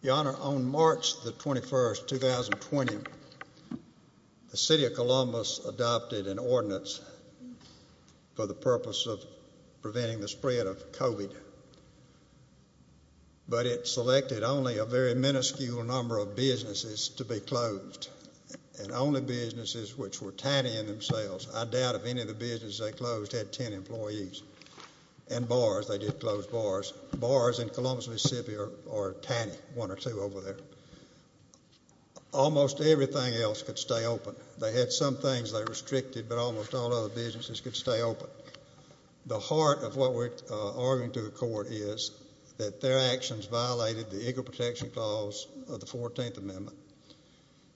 Your Honor, on March the 21st, 2020, the City of Columbus adopted an ordinance for the purpose of preventing the spread of COVID, but it selected only a very minuscule number of businesses to be closed, and only businesses which were tiny in themselves, I doubt if any of the businesses they closed had ten employees. And bars, they did close bars. Bars in Columbus, Mississippi are tiny, one or two over there. Almost everything else could stay open. They had some things they restricted, but almost all other businesses could stay open. The heart of what we're arguing to the Court is that their actions violated the Equal Protection Clause of the Fourteenth Amendment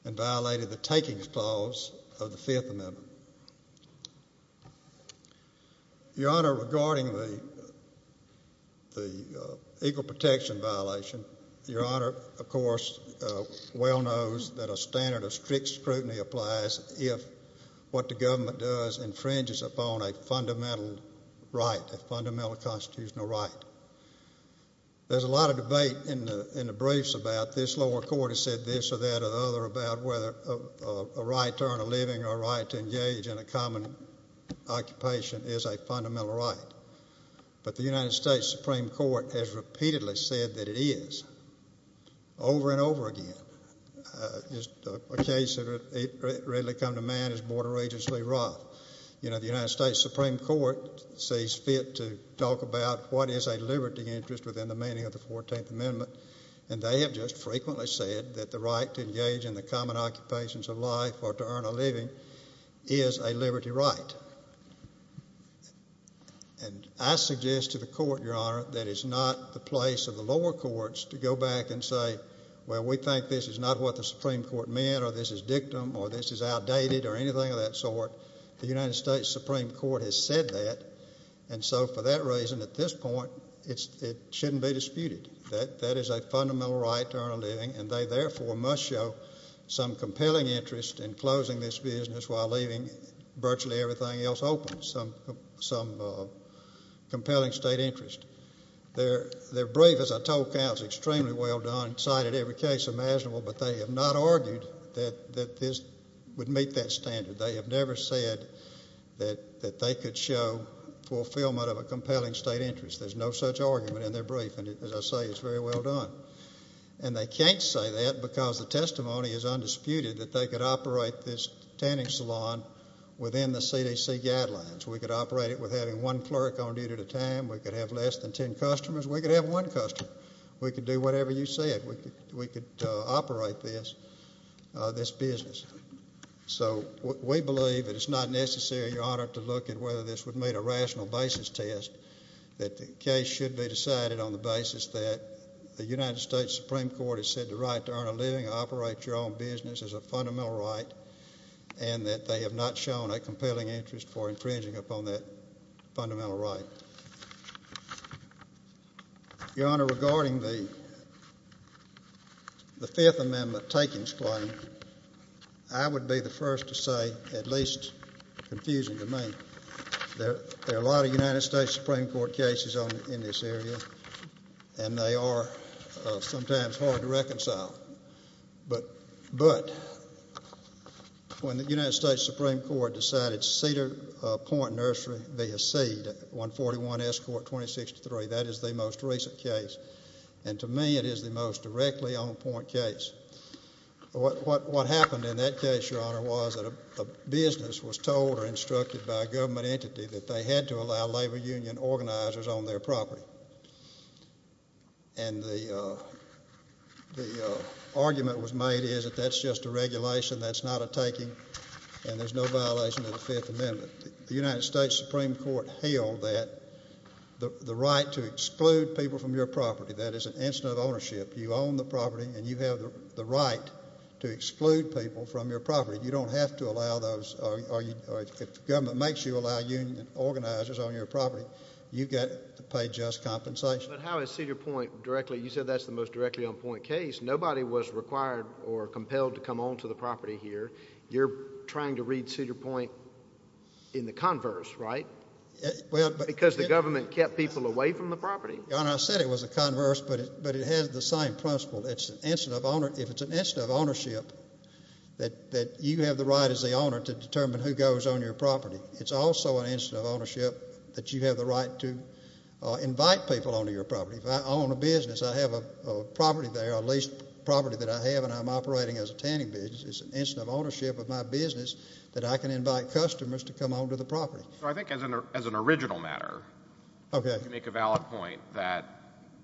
and violated the Takings Clause of the Fifth Amendment. Your Honor, regarding the Equal Protection violation, Your Honor, of course, well knows that a standard of strict scrutiny applies if what the government does infringes upon a fundamental right, a fundamental constitutional right. There's a lot of debate in the brief about this lower court has said this or that or the other about whether a right to earn a living or a right to engage in a common occupation is a fundamental right. But the United States Supreme Court has repeatedly said that it is, over and over again. A case that has readily come to mind is Board of Regents Lee Roth. You know, the United States Supreme Court says it's fit to talk about what is a liberty interest within the meaning of the Fourteenth Amendment, and they have just frequently said that the right to engage in the common occupations of life or to earn a living is a liberty right. And I suggest to the Court, Your Honor, that it's not the place of the lower courts to go back and say, well, we think this is not what the Supreme Court meant or this is dictum or this is outdated or anything of that sort. The United States Supreme Court has said that, and so for that at this point, it shouldn't be disputed. That is a fundamental right to earn a living, and they therefore must show some compelling interest in closing this business while leaving virtually everything else open, some compelling state interest. Their brief, as I told Cal, is extremely well done, cited every case imaginable, but they have not argued that this would meet that standard. They have never said that they could show fulfillment of a state interest. There's no such argument in their brief, and as I say, it's very well done. And they can't say that because the testimony is undisputed that they could operate this tanning salon within the CDC guidelines. We could operate it with having one clerk on duty at a time. We could have less than ten customers. We could have one customer. We could do whatever you said. We could operate this business. So we believe that it's not a rational basis test, that the case should be decided on the basis that the United States Supreme Court has said the right to earn a living, operate your own business, is a fundamental right, and that they have not shown a compelling interest for infringing upon that fundamental right. Your Honor, regarding the Fifth Amendment takings claim, I would be the first to say, at least confusing to me, there are a lot of United States Supreme Court cases in this area, and they are sometimes hard to reconcile. But when the United States Supreme Court decided Cedar Point Nursery be a seed, 141 S. Court 2063, that is the most recent case, and to me, it is the most directly on point case. What happened in that case, Your Honor, was that a business was told or instructed by a government entity that they had to allow labor union organizers on their property. And the argument was made is that that's just a regulation, that's not a taking, and there's no violation of the Fifth Amendment. The United States Supreme Court held that the right to exclude people from your property, that is an incident of ownership, you own the property and you have the right to exclude people from your property. You don't have to allow those, or if the government makes you allow union organizers on your property, you get to pay just compensation. But how is Cedar Point directly, you said that's the most directly on point case, nobody was required or compelled to come onto the property here. You're trying to read Cedar Point in the converse, right? Because the government kept people away from the property. Your Honor, I said it was a converse, but it has the same principle. If it's an incident of ownership, that you have the right as the owner to determine who goes on your property. It's also an incident of ownership that you have the right to invite people onto your property. If I own a business, I have a property there, a leased property that I have and I'm operating as a tanning business, it's an incident of ownership of my business that I can invite customers to come onto the property. I think as an original matter, you make a valid point that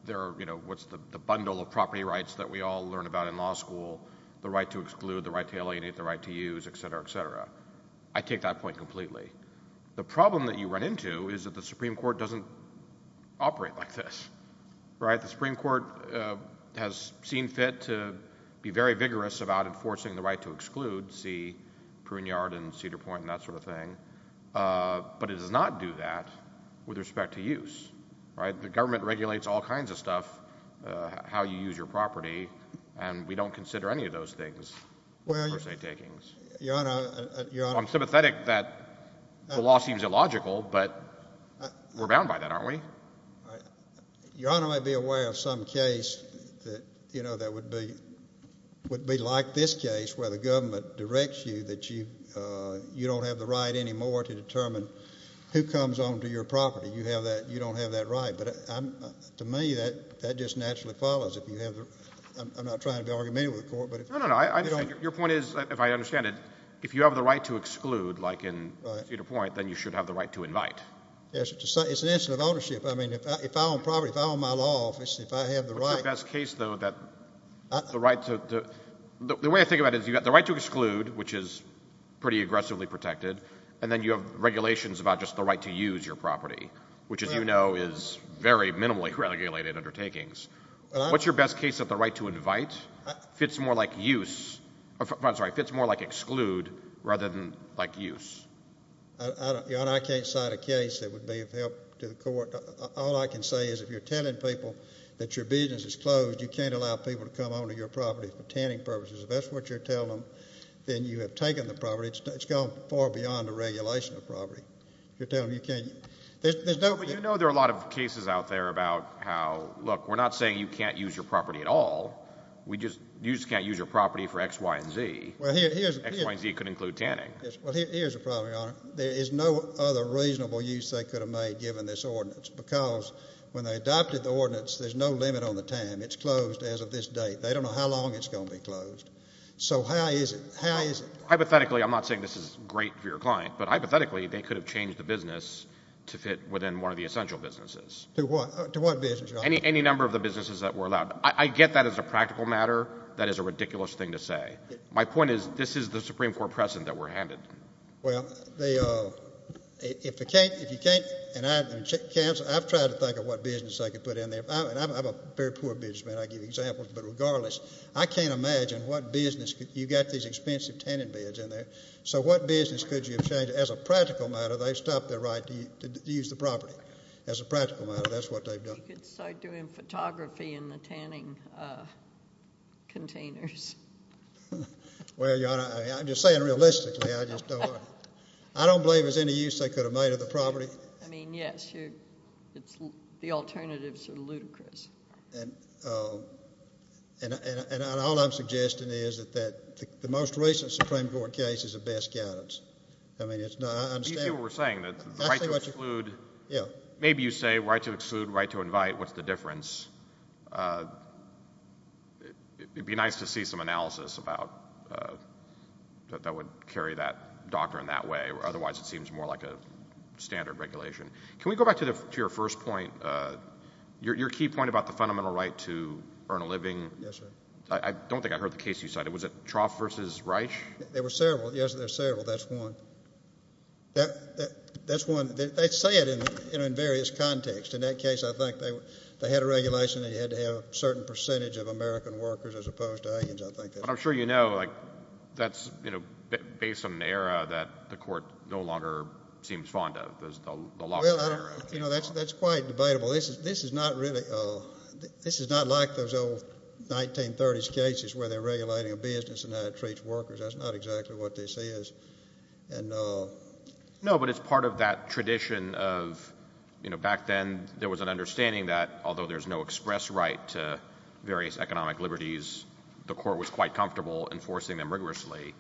there are, you know, what's the bundle of property rights that we all learn about in law school, the right to exclude, the right to alienate, the right to use, etc., etc. I take that point completely. The problem that you run into is that the Supreme Court doesn't operate like this, right? The Supreme Court has seen fit to be very vigorous about enforcing the right to exclude, see Pruneyard and Cedar Point and that sort of thing, but it does not do that with respect to use, right? The government regulates all kinds of stuff, how you use your property, and we don't consider any of those things first aid takings. Your Honor, I'm sympathetic that the law seems illogical, but we're bound by that, aren't we? Your Honor might be aware of some case that, you know, that would be like this case where the government directs you that you don't have the right anymore to determine who comes onto your property. You don't have that right, but to me, that just naturally follows. I'm not trying to be argumentative with the Court. No, no, no. Your point is, if I understand it, if you have the right to exclude, like in Cedar Point, then you should have the right to invite. It's an issue of ownership. I mean, if I own property, if I own my law office, if I have the right... What's your best case, though, that the right to... The way I think about it is you've got the right to exclude, which is pretty aggressively protected, and then you have regulations about just the right to use your property, which, as you know, is very minimally regulated undertakings. What's your best case that the right to invite fits more like use, I'm sorry, fits more like exclude rather than like use? Your Honor, I can't cite a case that would be of help to the Court. All I can say is if you're telling people that your business is closed, you can't allow people to come onto your property for tanning purposes. If that's what you're telling them, then you have taken the property. It's gone far beyond the regulation of property. You're telling them you can't... There's no... But you know there are a lot of cases out there about how, look, we're not saying you can't use your property at all. We just... You just can't use your property for X, Y, and Z. Well, here's... X, Y, and Z could have made given this ordinance because when they adopted the ordinance, there's no limit on the time. It's closed as of this date. They don't know how long it's going to be closed. So how is it? How is it? Hypothetically, I'm not saying this is great for your client, but hypothetically, they could have changed the business to fit within one of the essential businesses. To what? To what business, Your Honor? Any number of the businesses that were allowed. I get that as a practical matter. That is a ridiculous thing to say. My point is this is the Supreme Court precedent that we're handed. Well, if you can't... I've tried to think of what business I could put in there. I'm a very poor businessman. I give examples. But regardless, I can't imagine what business... You've got these expensive tanning beds in there. So what business could you have changed? As a practical matter, they've stopped their right to use the property. As a practical matter, that's what they've done. You could start doing photography in the tanning containers. Well, Your Honor, I'm just saying realistically. I just don't... I don't believe there's any use they could have made of the property. I mean, yes. It's... The alternatives are ludicrous. And all I'm suggesting is that the most recent Supreme Court case is the best guidance. I mean, it's not... I understand... These people were saying that the right to exclude... Yeah. Maybe you say right to exclude, right to invite. What's the difference? It'd be nice to see some of that. Yeah. I mean, there's a lot of analysis about... That would carry that doctor in that way. Otherwise, it seems more like a standard regulation. Can we go back to your first point? Your key point about the fundamental right to earn a living. Yes, sir. I don't think I heard the case you cited. Was it Trough versus Reich? There were several. Yes, there's several. That's one. That's one. They say it in various contexts. In that case, I think they had a regulation that had to have a certain percentage of American workers as opposed to Indians, I think. But I'm sure you know, that's based on an era that the court no longer seems fond of. That's quite debatable. This is not really... This is not like those old 1930s cases where they're regulating a business and how it treats workers. That's not exactly what this is. No, but it's part of that tradition of... Back then, there was an understanding that, although there's no express right to various economic liberties, the court was quite comfortable enforcing them rigorously.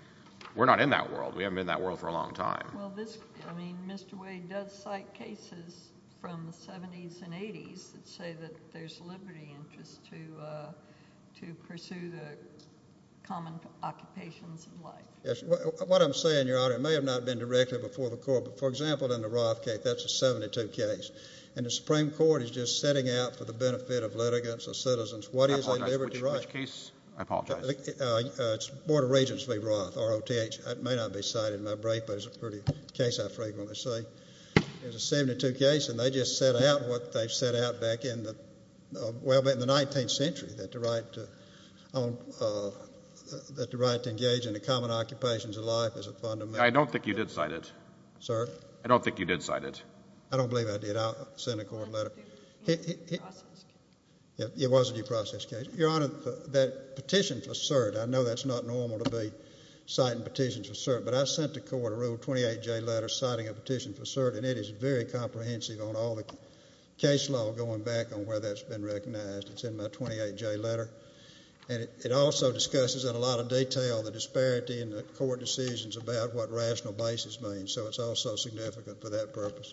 We're not in that world. We haven't been in that world for a long time. I mean, Mr. Wade does cite cases from the 70s and 80s that say that there's liberty interest to pursue the common occupations of life. Yes. What I'm saying, Your Honor, may have not been directed before the court. But for example, in the Roth case, that's a 72 case. And the Supreme Court is just setting out for the benefit of litigants or citizens, what is a liberty right? I apologize. Which case? I apologize. It's Board of Regents v. Roth, R-O-T-H. It may not be cited in my brief, but it's a pretty case I frequently see. It's a 72 case, and they just set out what they've set out back in the 19th century, that the right to engage in the common occupations of life is a fundamental- I don't think you did cite it. Sir? I don't think you did cite it. I don't believe I did. I'll send a court letter. It was a due process case. Your Honor, that petition for cert, I know that's not normal to be citing petitions for cert, but I sent the court a Rule 28J letter citing a petition for cert, and it is very comprehensive on all the case law going back on where that's been recognized. It's in my 28J letter, and it also discusses in a lot of detail the disparity in the court decisions about what rational basis means, so it's also significant for that purpose.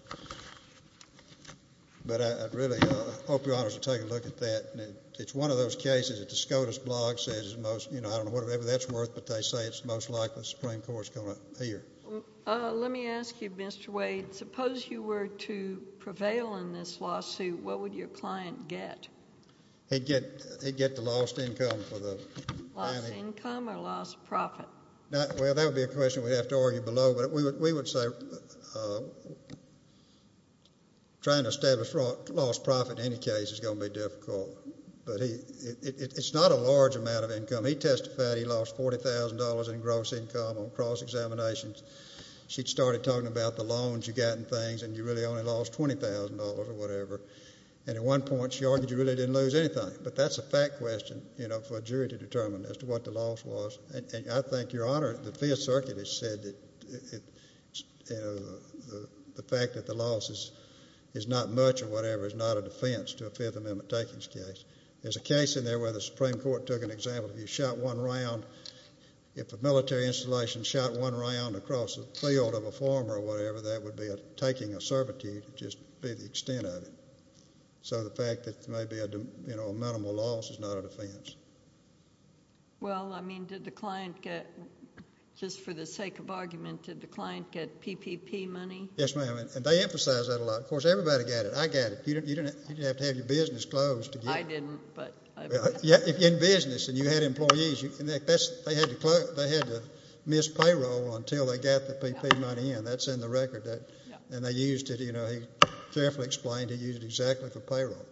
But I really hope Your Honor will take a look at that. It's one of those cases that the SCOTUS blog says is most- I don't know whatever that's worth, but they say it's most likely the Supreme Court's going to hear. Let me ask you, Mr. Wade, suppose you were to prevail in this lawsuit, what would your client get? He'd get the lost income for the- Lost income or lost profit? Well, that would be a question we'd have to argue below, but we would say trying to establish lost profit in any case is going to be difficult, but it's not a large amount of income. He testified he lost $40,000 in gross income on cross-examinations. She started talking about the loans you got and things, and you really only lost $20,000 or whatever, and at one point she argued you really didn't lose anything, but that's a fact question for a jury to determine as to what the loss was, and I think, Your Honor, the Fifth Circuit has said that the fact that the loss is not much or whatever is not a defense to a Fifth Amendment takings case. There's a case in there where the Supreme Court took an example. If you shot one round, if a military installation shot one round across the field of a farmer or whatever, that would be a taking of servitude. It'd just be the extent of it, so the fact that there may be a minimal loss is not a defense. Well, I mean, did the client get, just for the sake of argument, did the client get PPP money? Yes, ma'am, and they emphasize that a lot. Of course, everybody got it. I got it. You didn't have to have your business closed to get it. I didn't, but... In business, and you had employees. They had to miss payroll until they got the PPP money, and that's in the record, and they used it. He carefully explained he used it exactly for payroll,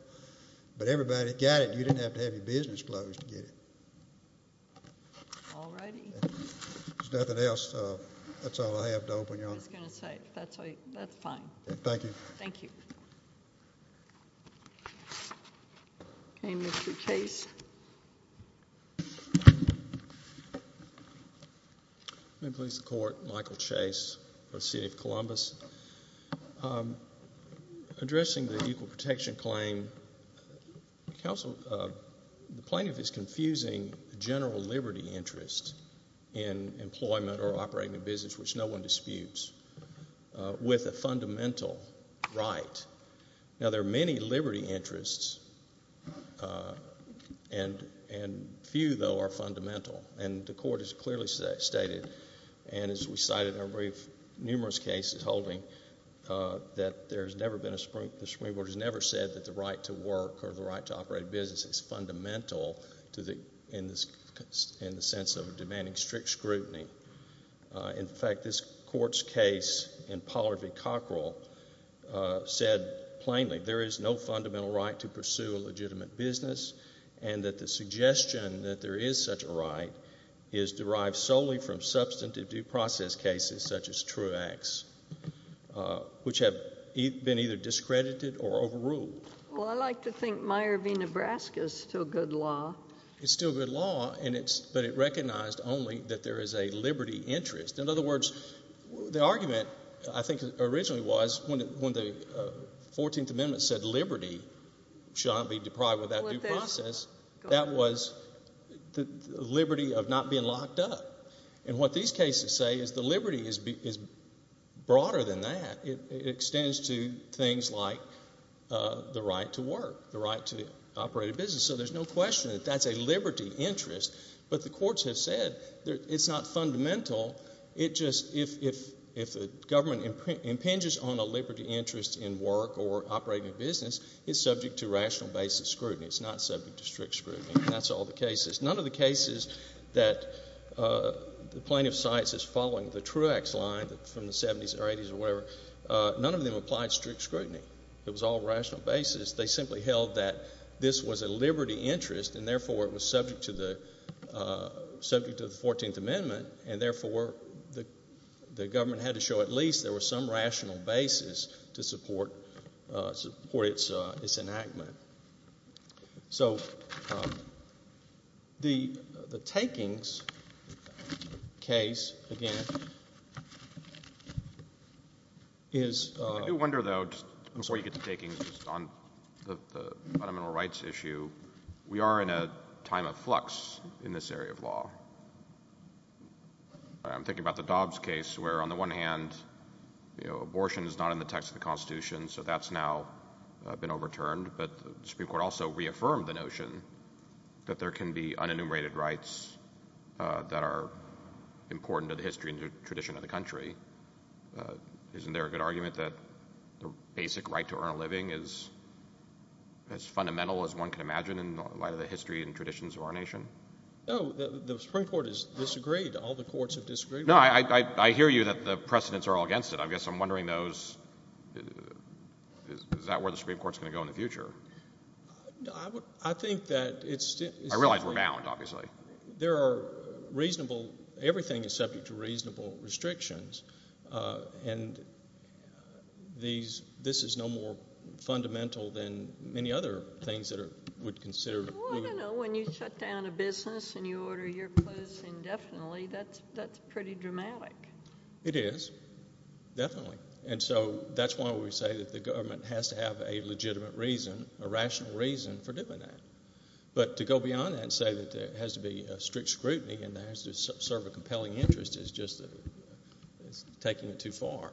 but everybody got it. You didn't have to have your business closed to get it. All righty. If there's nothing else, that's all I have to open you up. I was going to say, that's fine. Thank you. Thank you. Okay, Mr. Chase. Ma'am, Police and Court. Michael Chase for the City of Columbus. Addressing the Equal Protection claim, the plaintiff is confusing general liberty interest in employment or operating a business, which no one disputes, with a fundamental right. Now, there are many liberty interests, and few, though, are fundamental, and the court has clearly stated, and as we cited in our brief case, holding that there's never been a Supreme Court has never said that the right to work or the right to operate a business is fundamental in the sense of demanding strict scrutiny. In fact, this court's case in Pollard v. Cockrell said plainly there is no fundamental right to pursue a legitimate business, and that the suggestion that there is such a right is derived solely from substantive due process cases such as Truax, which have been either discredited or overruled. Well, I like to think Meyer v. Nebraska is still good law. It's still good law, but it recognized only that there is a liberty interest. In other words, the argument, I think, originally was when the 14th Amendment said liberty shall not be deprived without due process, that was the liberty of not being locked up, and what these cases say is the liberty is broader than that. It extends to things like the right to work, the right to operate a business, so there's no question that that's a liberty interest, but the courts have said it's not fundamental. If the government impinges on a liberty interest in work or operating a business, it's subject to rational basis scrutiny. It's not subject to strict scrutiny, and that's all the cases. None of the cases that the plaintiff cites as following the Truax line from the 70s or 80s or whatever, none of them applied strict scrutiny. It was all rational basis. They simply held that this was a liberty interest, and therefore it was subject to the 14th Amendment, and therefore the government had to show at least there was some rational basis to support its enactment. So the Takings case, again, is... I do wonder, though, before you get to Takings, on the fundamental rights issue, we are in a time of flux in this area of law. I'm thinking about the Dobbs case, where on the one hand, abortion is not in the text of the Constitution, so that's now been overturned, but the Supreme Court also reaffirmed the notion that there can be unenumerated rights that are important to the history and tradition of the country. Isn't there a good argument that the basic right to earn a living is as fundamental as one can imagine in light of the history and traditions of our nation? No, the Supreme Court has disagreed. All the courts have disagreed. No, I hear you that the precedents are all against it. I guess I'm wondering, is that where the Supreme Court's going to go in the future? I think that it's... I realize we're bound, obviously. Everything is subject to reasonable restrictions, and this is no more fundamental than many other things that are would consider... Well, I don't know. When you shut down a business and you order your clothes indefinitely, that's pretty dramatic. It is, definitely, and so that's why we say that the government has to have a legitimate reason, a rational reason, for doing that, but to go beyond that and say that there has to be strict scrutiny and there has to serve a compelling interest is just taking it too far.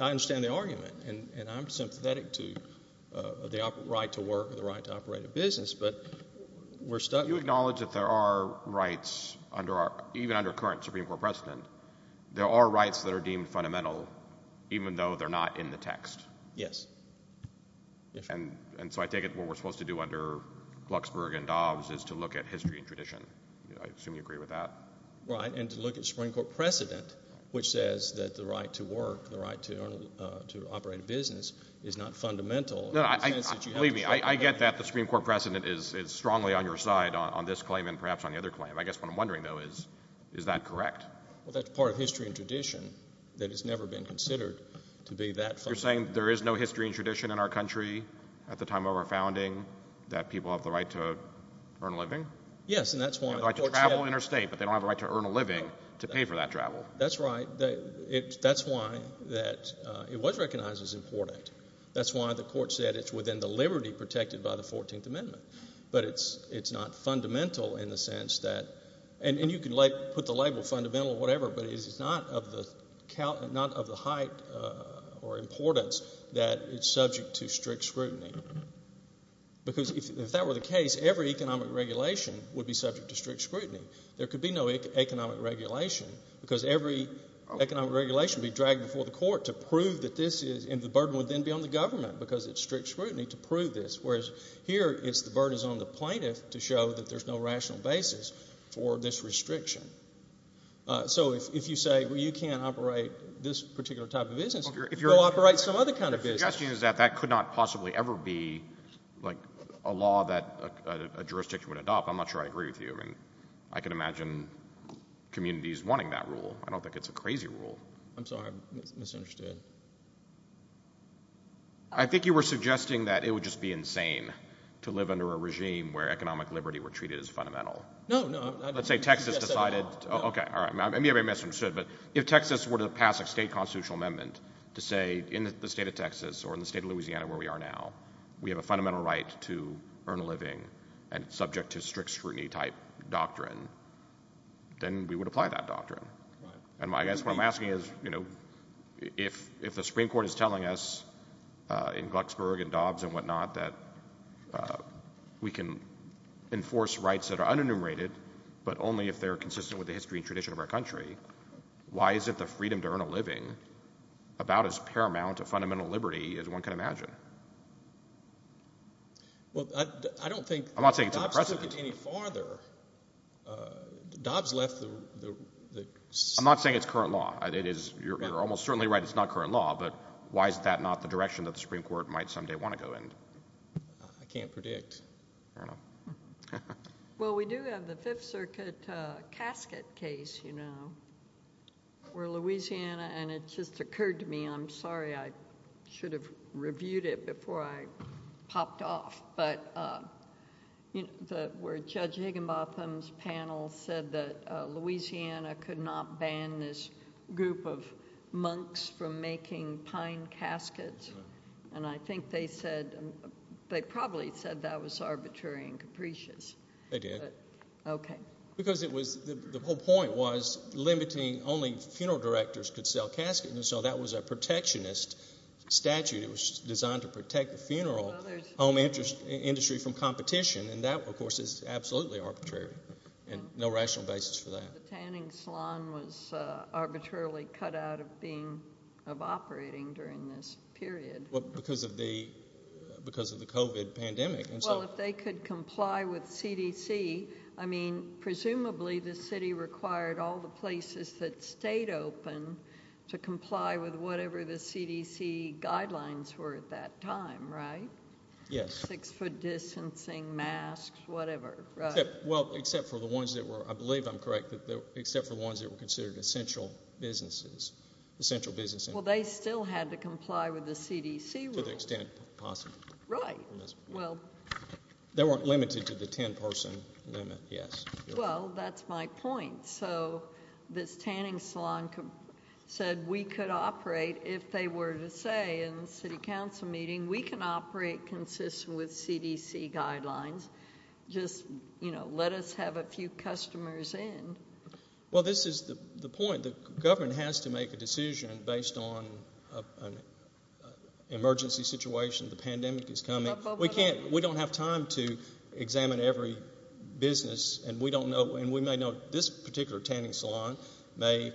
I understand the argument, and I'm sympathetic to the right to work and the right to operate a business, but we're stuck... Do you acknowledge that there are rights, even under current Supreme Court precedent, there are rights that are deemed fundamental even though they're not in the text? Yes. And so I take it what we're supposed to do under Luxburg and Dobbs is to look at history and tradition. I assume you agree with that? Right, and to look at Supreme Court precedent, which says that the right to work, the right to operate a business, is not fundamental... Believe me, I get that the Supreme Court precedent is strongly on your side on this claim and perhaps on the other claim. I guess what I'm wondering, though, is is that correct? Well, that's part of history and tradition that has never been considered to be that... You're saying there is no history and tradition in our country at the time of our founding that people have the right to earn a living? Yes, and that's why... They have the right to travel interstate, but they don't have the right to earn a living to pay for that travel. That's right. That's why it was recognized as important. That's why the court said it's within the liberty protected by the 14th Amendment, but it's not fundamental in the sense that... And you can put the label fundamental or whatever, but it's not of the height or importance that it's subject to strict scrutiny. Because if that were the case, every economic regulation would be subject to strict scrutiny. There could be no economic regulation because every economic regulation would be dragged before the court to prove that this is... And the burden would then be on the government because it's strict scrutiny to prove this, whereas here it's the burden is on the plaintiff to show that there's no rational basis for this restriction. So if you say, well, you can't operate this particular type of business, go operate some other kind of business. The suggestion is that that could not possibly ever be a law that a jurisdiction would adopt. I'm not sure I agree with you. I can imagine communities wanting that rule. I don't think it's a crazy rule. I'm sorry. I'm misunderstood. I think you were suggesting that it would just be insane to live under a regime where economic liberty were treated as fundamental. No, no. Let's say Texas decided... Okay. All right. Maybe I misunderstood, but if Texas were to pass a state constitutional amendment to say in the state of Texas or in the state of Louisiana, where we are now, we have a fundamental right to earn a living and subject to strict scrutiny type doctrine, then we would apply that doctrine. And I guess what I'm asking is, if the Supreme Court is telling us in Glucksburg and Dobbs and whatnot, that we can enforce rights that are unenumerated, but only if they're consistent with the history and tradition of our country, why isn't the freedom to earn a living about as paramount a fundamental liberty as one can imagine? Well, I don't think... I'm not saying it's unprecedented. I'm not saying it's current law. You're almost certainly right. It's not current law, but why is that not the direction that the Supreme Court might someday want to go in? I can't predict. Well, we do have the Fifth Circuit casket case where Louisiana... And it just occurred to me, I'm sorry, I should have reviewed it before I popped off, but where Judge Higginbotham's panel said that Louisiana could not ban this group of monks from making pine caskets, and I think they said... They probably said that was arbitrary and capricious. They did. Okay. Because the whole point was limiting... Only funeral directors could sell caskets, so that was a protectionist statute. It was designed to protect the funeral home industry from competition, and that, of course, is absolutely arbitrary, and no rational basis for that. The tanning salon was arbitrarily cut out of operating during this period. Well, because of the COVID pandemic, and so... Well, if they could comply with CDC, I mean, presumably, the city required all the places that stayed open to comply with whatever the CDC guidelines were at that time, right? Yes. Six-foot distancing, masks, whatever, right? Well, except for the ones that were... I believe I'm correct, except for the ones that were considered essential businesses, essential businesses. Well, they still had to comply with the CDC rules. To the extent possible. Right. Well... They weren't limited to the 10-person limit, yes. Well, that's my point. So this tanning salon said we could operate if they were to say in the city council meeting, we can operate consistent with CDC guidelines. Just, you know, let us have a few customers in. Well, this is the point. The government has to make a decision based on an emergency situation. The pandemic is coming. We can't... We don't have time to and we may know this particular tanning salon may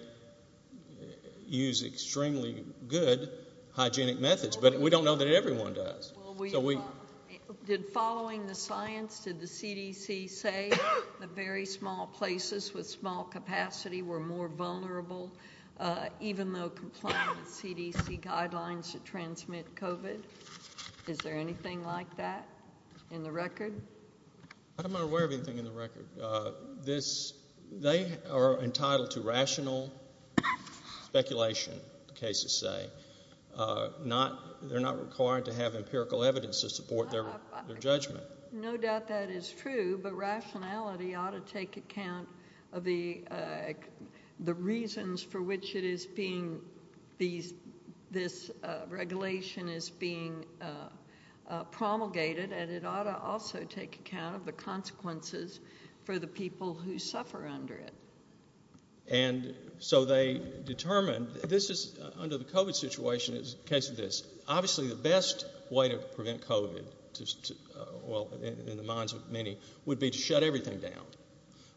use extremely good hygienic methods, but we don't know that everyone does. Did following the science, did the CDC say the very small places with small capacity were more vulnerable, even though complying with CDC guidelines to transmit COVID? Is there anything like that in the record? I'm not aware of anything in the record. They are entitled to rational speculation, the cases say. They're not required to have empirical evidence to support their judgment. No doubt that is true, but rationality ought to take account of the reasons for which it is being these, this regulation is being promulgated, and it ought to also take account of the consequences for the people who suffer under it. And so they determined this is under the COVID situation is case of this. Obviously, the best way to prevent COVID, well, in the minds of many would be to shut everything down.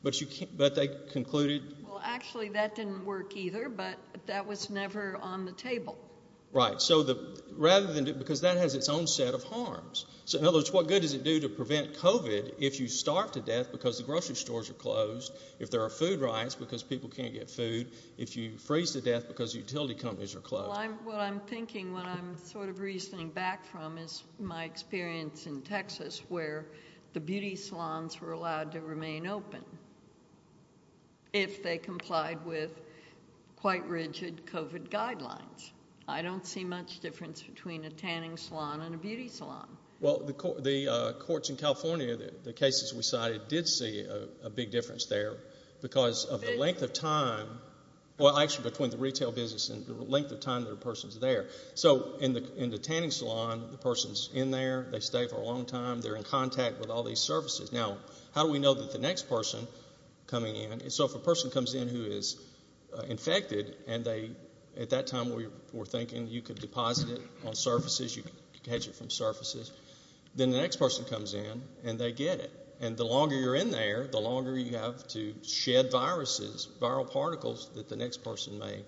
But you can't, but they concluded. Well, actually, that didn't work either. But that was never on the table, right? So the rather than because that has its own set of harms. So in other words, what good does it do to prevent COVID? If you start to death because the grocery stores are closed, if there are food riots, because people can't get food, if you freeze to death, because utility companies are closed. What I'm thinking when I'm sort of reasoning back from is my experience in Texas, where the beauty salons were allowed to remain open. If they complied with quite rigid COVID guidelines, I don't see much difference between a tanning salon and a beauty salon. Well, the courts in California, the cases we cited did see a big difference there. Because of the length of time, well, actually, between the retail business and the length of time that a person's there. So in the tanning salon, the person's in there, they stay for a long time, they're in contact with all these services. Now, how do we know that the next person coming in? So if a person comes in who is infected, and they, at that time, we were thinking you could deposit it on surfaces, you can catch it from surfaces. Then the next person comes in, and they get it. And the longer you're in there, the longer you have to shed viruses, viral particles that the next person may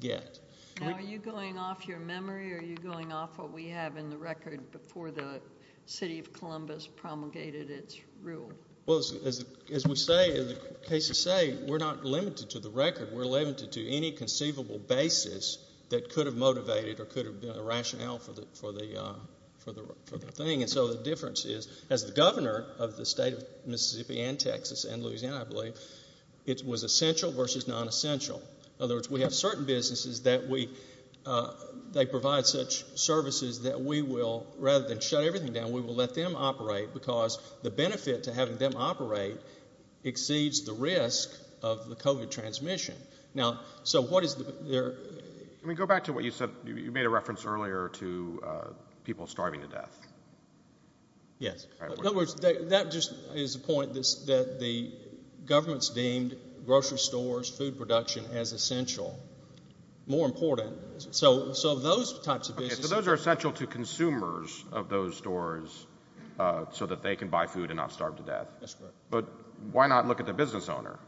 get. Now, are you going off your memory? Are you going off what we have in the record before the City of Columbus promulgated its rule? Well, as we say, as the cases say, we're not limited to the record. We're limited to any conceivable basis that could have motivated or could have been a rationale for the thing. And so the difference is, as the governor of the state of Mississippi and Texas and Louisiana, I believe, it was essential versus nonessential. In other words, we have certain businesses that we, they provide such services that we will, rather than shut everything down, we will let them operate because the benefit to having them operate exceeds the risk of the COVID transmission. Now, so what is there? Let me go back to what you said. You made a reference earlier to people starving to death. Yes. In other words, that just is a point that the government's deemed grocery stores, food production as essential, more important. So those types of businesses. Those are essential to consumers of those stores so that they can buy food and not starve to death. That's correct. But why not look at the business owner?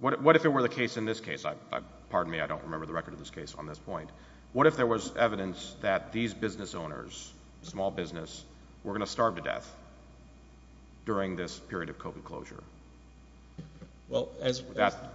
What if it were the case in this case? Pardon me, I don't remember the record of this case on this point. What if there was evidence that these business owners, small business, were going to starve to death during this period of COVID closure? Well, as.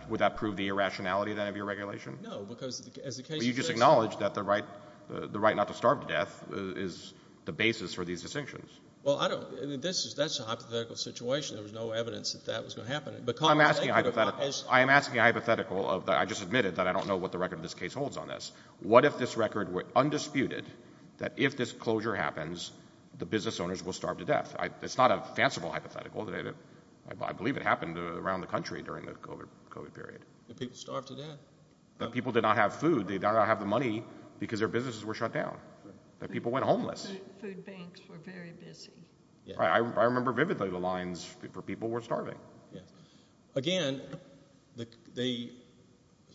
Would that prove the irrationality then of your regulation? No, because as the case. You just acknowledge that the right, the right not to starve to death is the basis for these distinctions. Well, I don't. This is that's a hypothetical situation. There was no evidence that that was going to happen. I am asking a hypothetical. I just admitted that I don't know what the record of this case holds on this. What if this record were undisputed that if this closure happens, the business owners will starve to death? It's not a fanciful hypothetical. I believe it happened around the country during the COVID period. People starve to death. People did not have food. They don't have the money because their businesses were shut down. That people went homeless. Food banks were very busy. I remember vividly the lines for people were starving. Again, the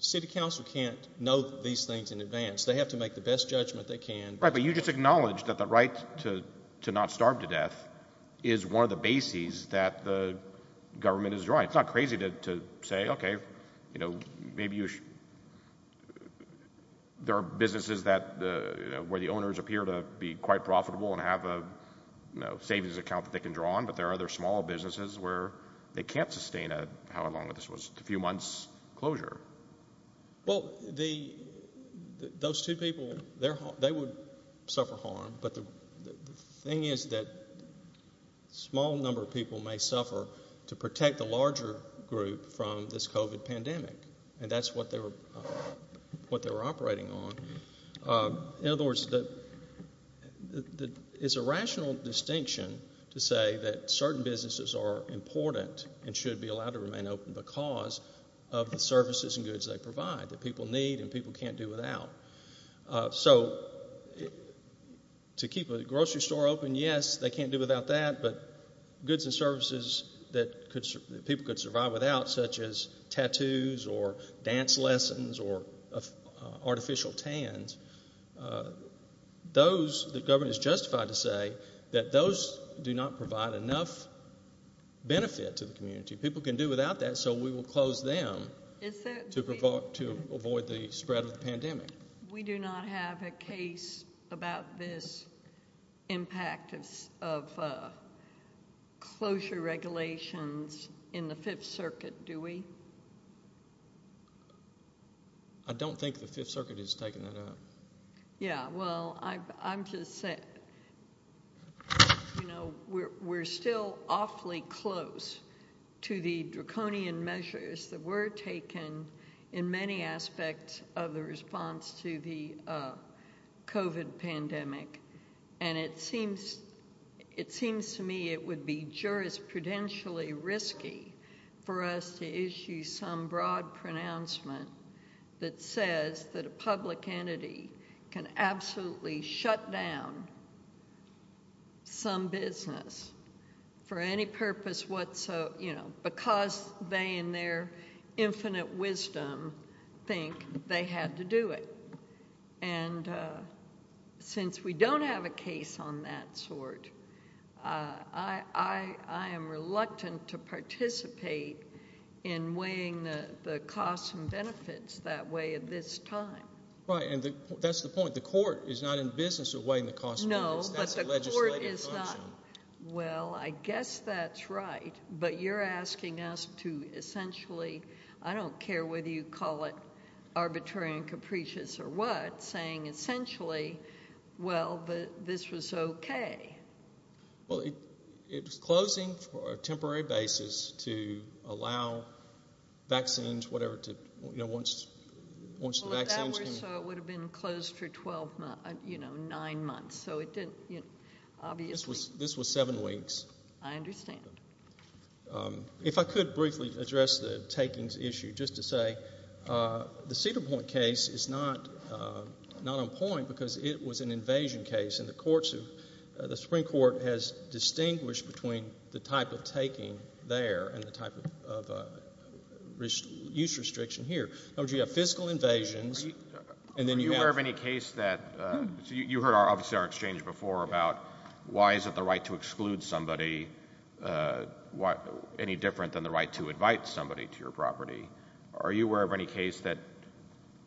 city council can't know these things in advance. They have to make the best judgment they can. Right. But you just acknowledged that the right to not starve to death is one of the bases that the government is drawing. It's not crazy to say, OK, you know, maybe there are businesses where the owners appear to be quite profitable and have a savings account that they can draw on. But there are other small businesses where they can't sustain how long this was, a few months closure. Well, those two people, they would suffer harm. But the thing is that a small number of people may suffer to protect the larger group from this COVID pandemic. And that's what they were operating on. In other words, it's a rational distinction to say that certain businesses are important and should be allowed to remain open because of the services and goods they provide that people need and people can't do without. So to keep a grocery store open, yes, they can't do without that. But goods and services that people could survive without, such as tattoos or dance lessons or artificial tans, those the government is justified to say that those do not provide enough benefit to the community. People can do without that. So we will close them to avoid the spread of the pandemic. We do not have a case about this impact of closure regulations in the Fifth Circuit, do we? I don't think the Fifth Circuit has taken that out. Yeah, well, I'm just saying, you know, we're still awfully close to the draconian measures that were taken in many aspects of the response to the COVID pandemic. And it seems to me it would be jurisprudentially risky for us to issue some broad pronouncement that says that a public entity can absolutely shut down some business for any purpose whatsoever, you know, because they in their infinite wisdom think they had to do it. And since we don't have a case on that sort, I am reluctant to participate in weighing the costs and benefits that way at this time. Right, and that's the point. The court is not in business of weighing the costs. No, but the court is not. Well, I guess that's right. But you're asking us to essentially, I don't care whether you call it arbitrary and capricious or what, saying essentially, well, this was okay. Well, it's closing for a temporary basis to allow vaccines, whatever, to, you know, once the vaccine's Well, if that were so, it would have been closed for 12 months, you know, nine months. So it didn't, you know, obviously This was seven weeks. I understand. If I could briefly address the takings issue, just to say, the Cedar Point case is not on point because it was an invasion case. And the Supreme Court has distinguished between the type of taking there and the type of use restriction here. In other words, you have fiscal invasions. Are you aware of any case that, so you heard, obviously, our exchange before about why is it the right to exclude somebody any different than the right to invite somebody to your property? Are you aware of any case that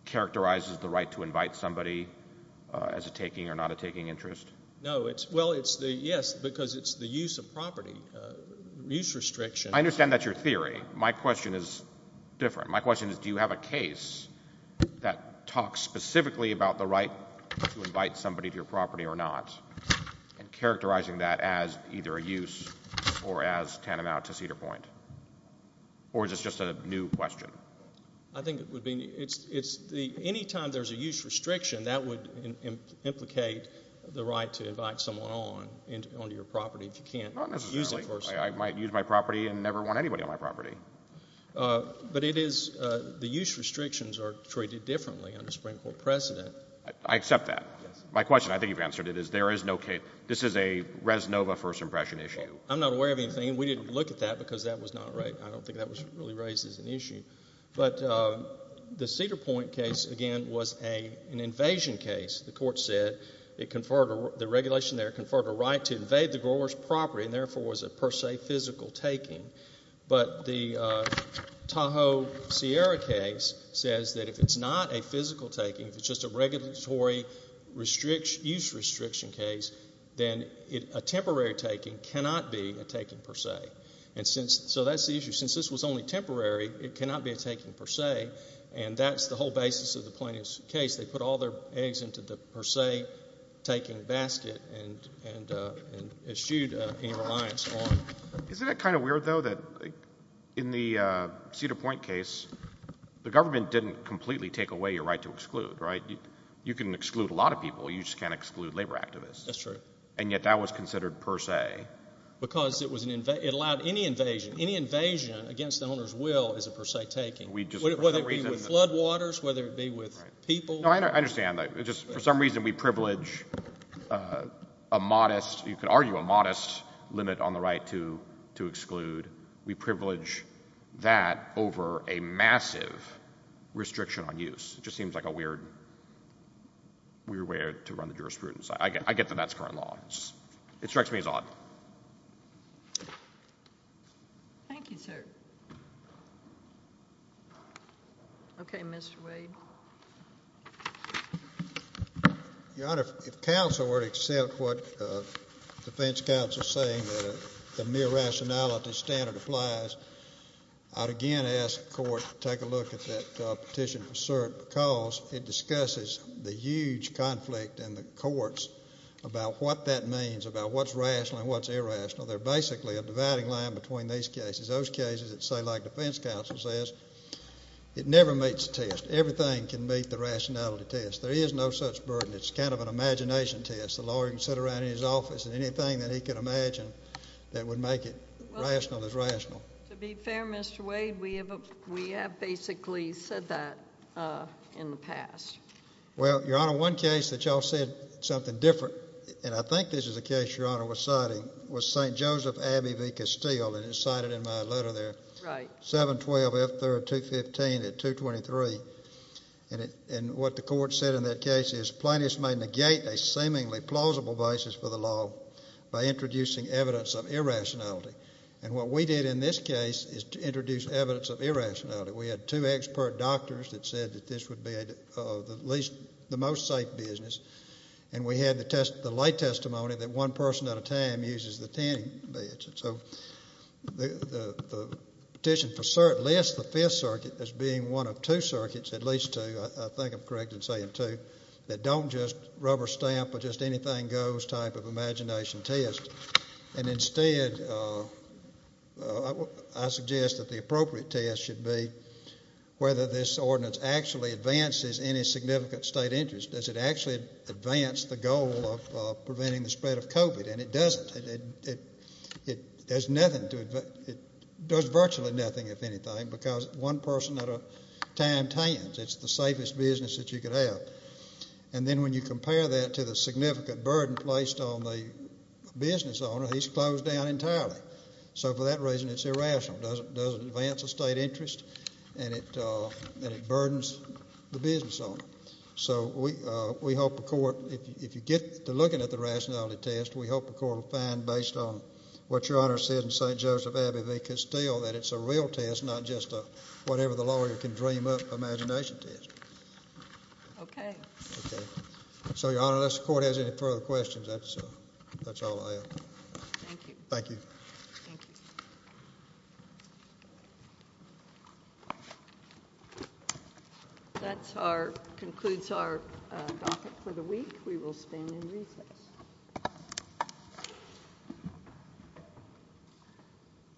characterizes the right to invite somebody as a taking or not a taking interest? No, it's, well, it's the, yes, because it's the use of property, use restriction. I understand that's your theory. My question is different. My question is, do you have a case that talks specifically about the right to invite somebody to your property or not and characterizing that as either a use or as tantamount to Cedar Point? Or is this just a new question? I think it would be, it's the, any time there's a use restriction, that would implicate the right to invite someone on, into, onto your property if you can't use it personally. I might use my property and never want anybody on my property. But it is, the use restrictions are treated differently under Supreme Court precedent. I accept that. My question, I think you've answered it, is there is no case, this is a Res Nova first impression issue. I'm not aware of anything. We didn't look at that because that was not right. I don't think that was really raised as an issue. But the Cedar Point case, again, was an invasion case. The court said it conferred, the regulation there conferred a right to invade the grower's property and therefore was a per se physical taking. But the Tahoe Sierra case says that if it's not a physical taking, if it's just a regulatory restriction, use restriction case, then a temporary taking cannot be a taking per se. And since, so that's the issue. Since this was only temporary, it cannot be a taking per se. And that's the whole basis of the plaintiff's case. They put all their eggs into the per se taking basket and eschewed any reliance on. Isn't it kind of weird though that in the Cedar Point case, the government didn't completely take away your right to exclude, right? You can exclude a lot of people. You just can't exclude labor activists. And yet that was considered per se. Because it allowed any invasion. Any invasion against the owner's will is a per se taking. Whether it be with floodwaters, whether it be with people. No, I understand that. It's just for some reason, we privilege a modest, you could argue a modest limit on the right to exclude. We privilege that over a massive restriction on use. It just seems like a weird way to run the jurisprudence. I get that that's current law. It strikes me as odd. Thank you, sir. Okay, Mr. Wade. Your Honor, if counsel were to accept what the defense counsel is saying, that the mere rationality standard applies, I'd again ask the court to take a look at that petition for cert because it discusses the huge conflict in the courts about what that means, about what's rational and what's irrational. They're basically a dividing line between these cases. Those cases that say, like defense counsel says, it never meets the test. Everything can meet the rationality test. There is no such burden. It's kind of an imagination test. The lawyer can sit around in his office and anything that he could imagine that would make it rational is rational. To be fair, Mr. Wade, we have basically said that in the past. Well, Your Honor, one case that y'all said something different, and I think this is a case Your Honor was citing, was St. Joseph Abbey v. Castile, and it's cited in my letter there. Right. 712 F 3rd 215 at 223. And what the court said in that case is plaintiffs may negate a seemingly plausible basis for the law by introducing evidence of irrationality. And what we did in this case is to introduce evidence of irrationality. We had two expert doctors that said that this would be at least the most safe business. And we had the late testimony that one person at a time uses the tanning beds. So the petition lists the 5th circuit as being one of two circuits, at least two, I think I'm correct in saying two, that don't just rubber stamp with just anything goes type of imagination test. And instead, I suggest that the appropriate test should be whether this ordinance actually advances any significant state interest. Does it actually advance the goal of preventing the spread of COVID? And it doesn't. It does virtually nothing, if anything, because one person at a time tans. It's the safest business that you could have. And then when you compare that to the significant burden placed on the business owner, he's closed down entirely. So for that reason, it's irrational. Does it advance a state interest? And it burdens the business owner. So we hope the court, if you get to looking at the rationality test, we hope the court will find based on what Your Honor said in St. Joseph Abbey v. Castile that it's a real test, not just a whatever the lawyer can dream up imagination test. Okay. Okay. So Your Honor, unless the court has any further questions, that's all I have. Thank you. Thank you. Thank you. Thank you. That concludes our topic for the week. We will stand and recess.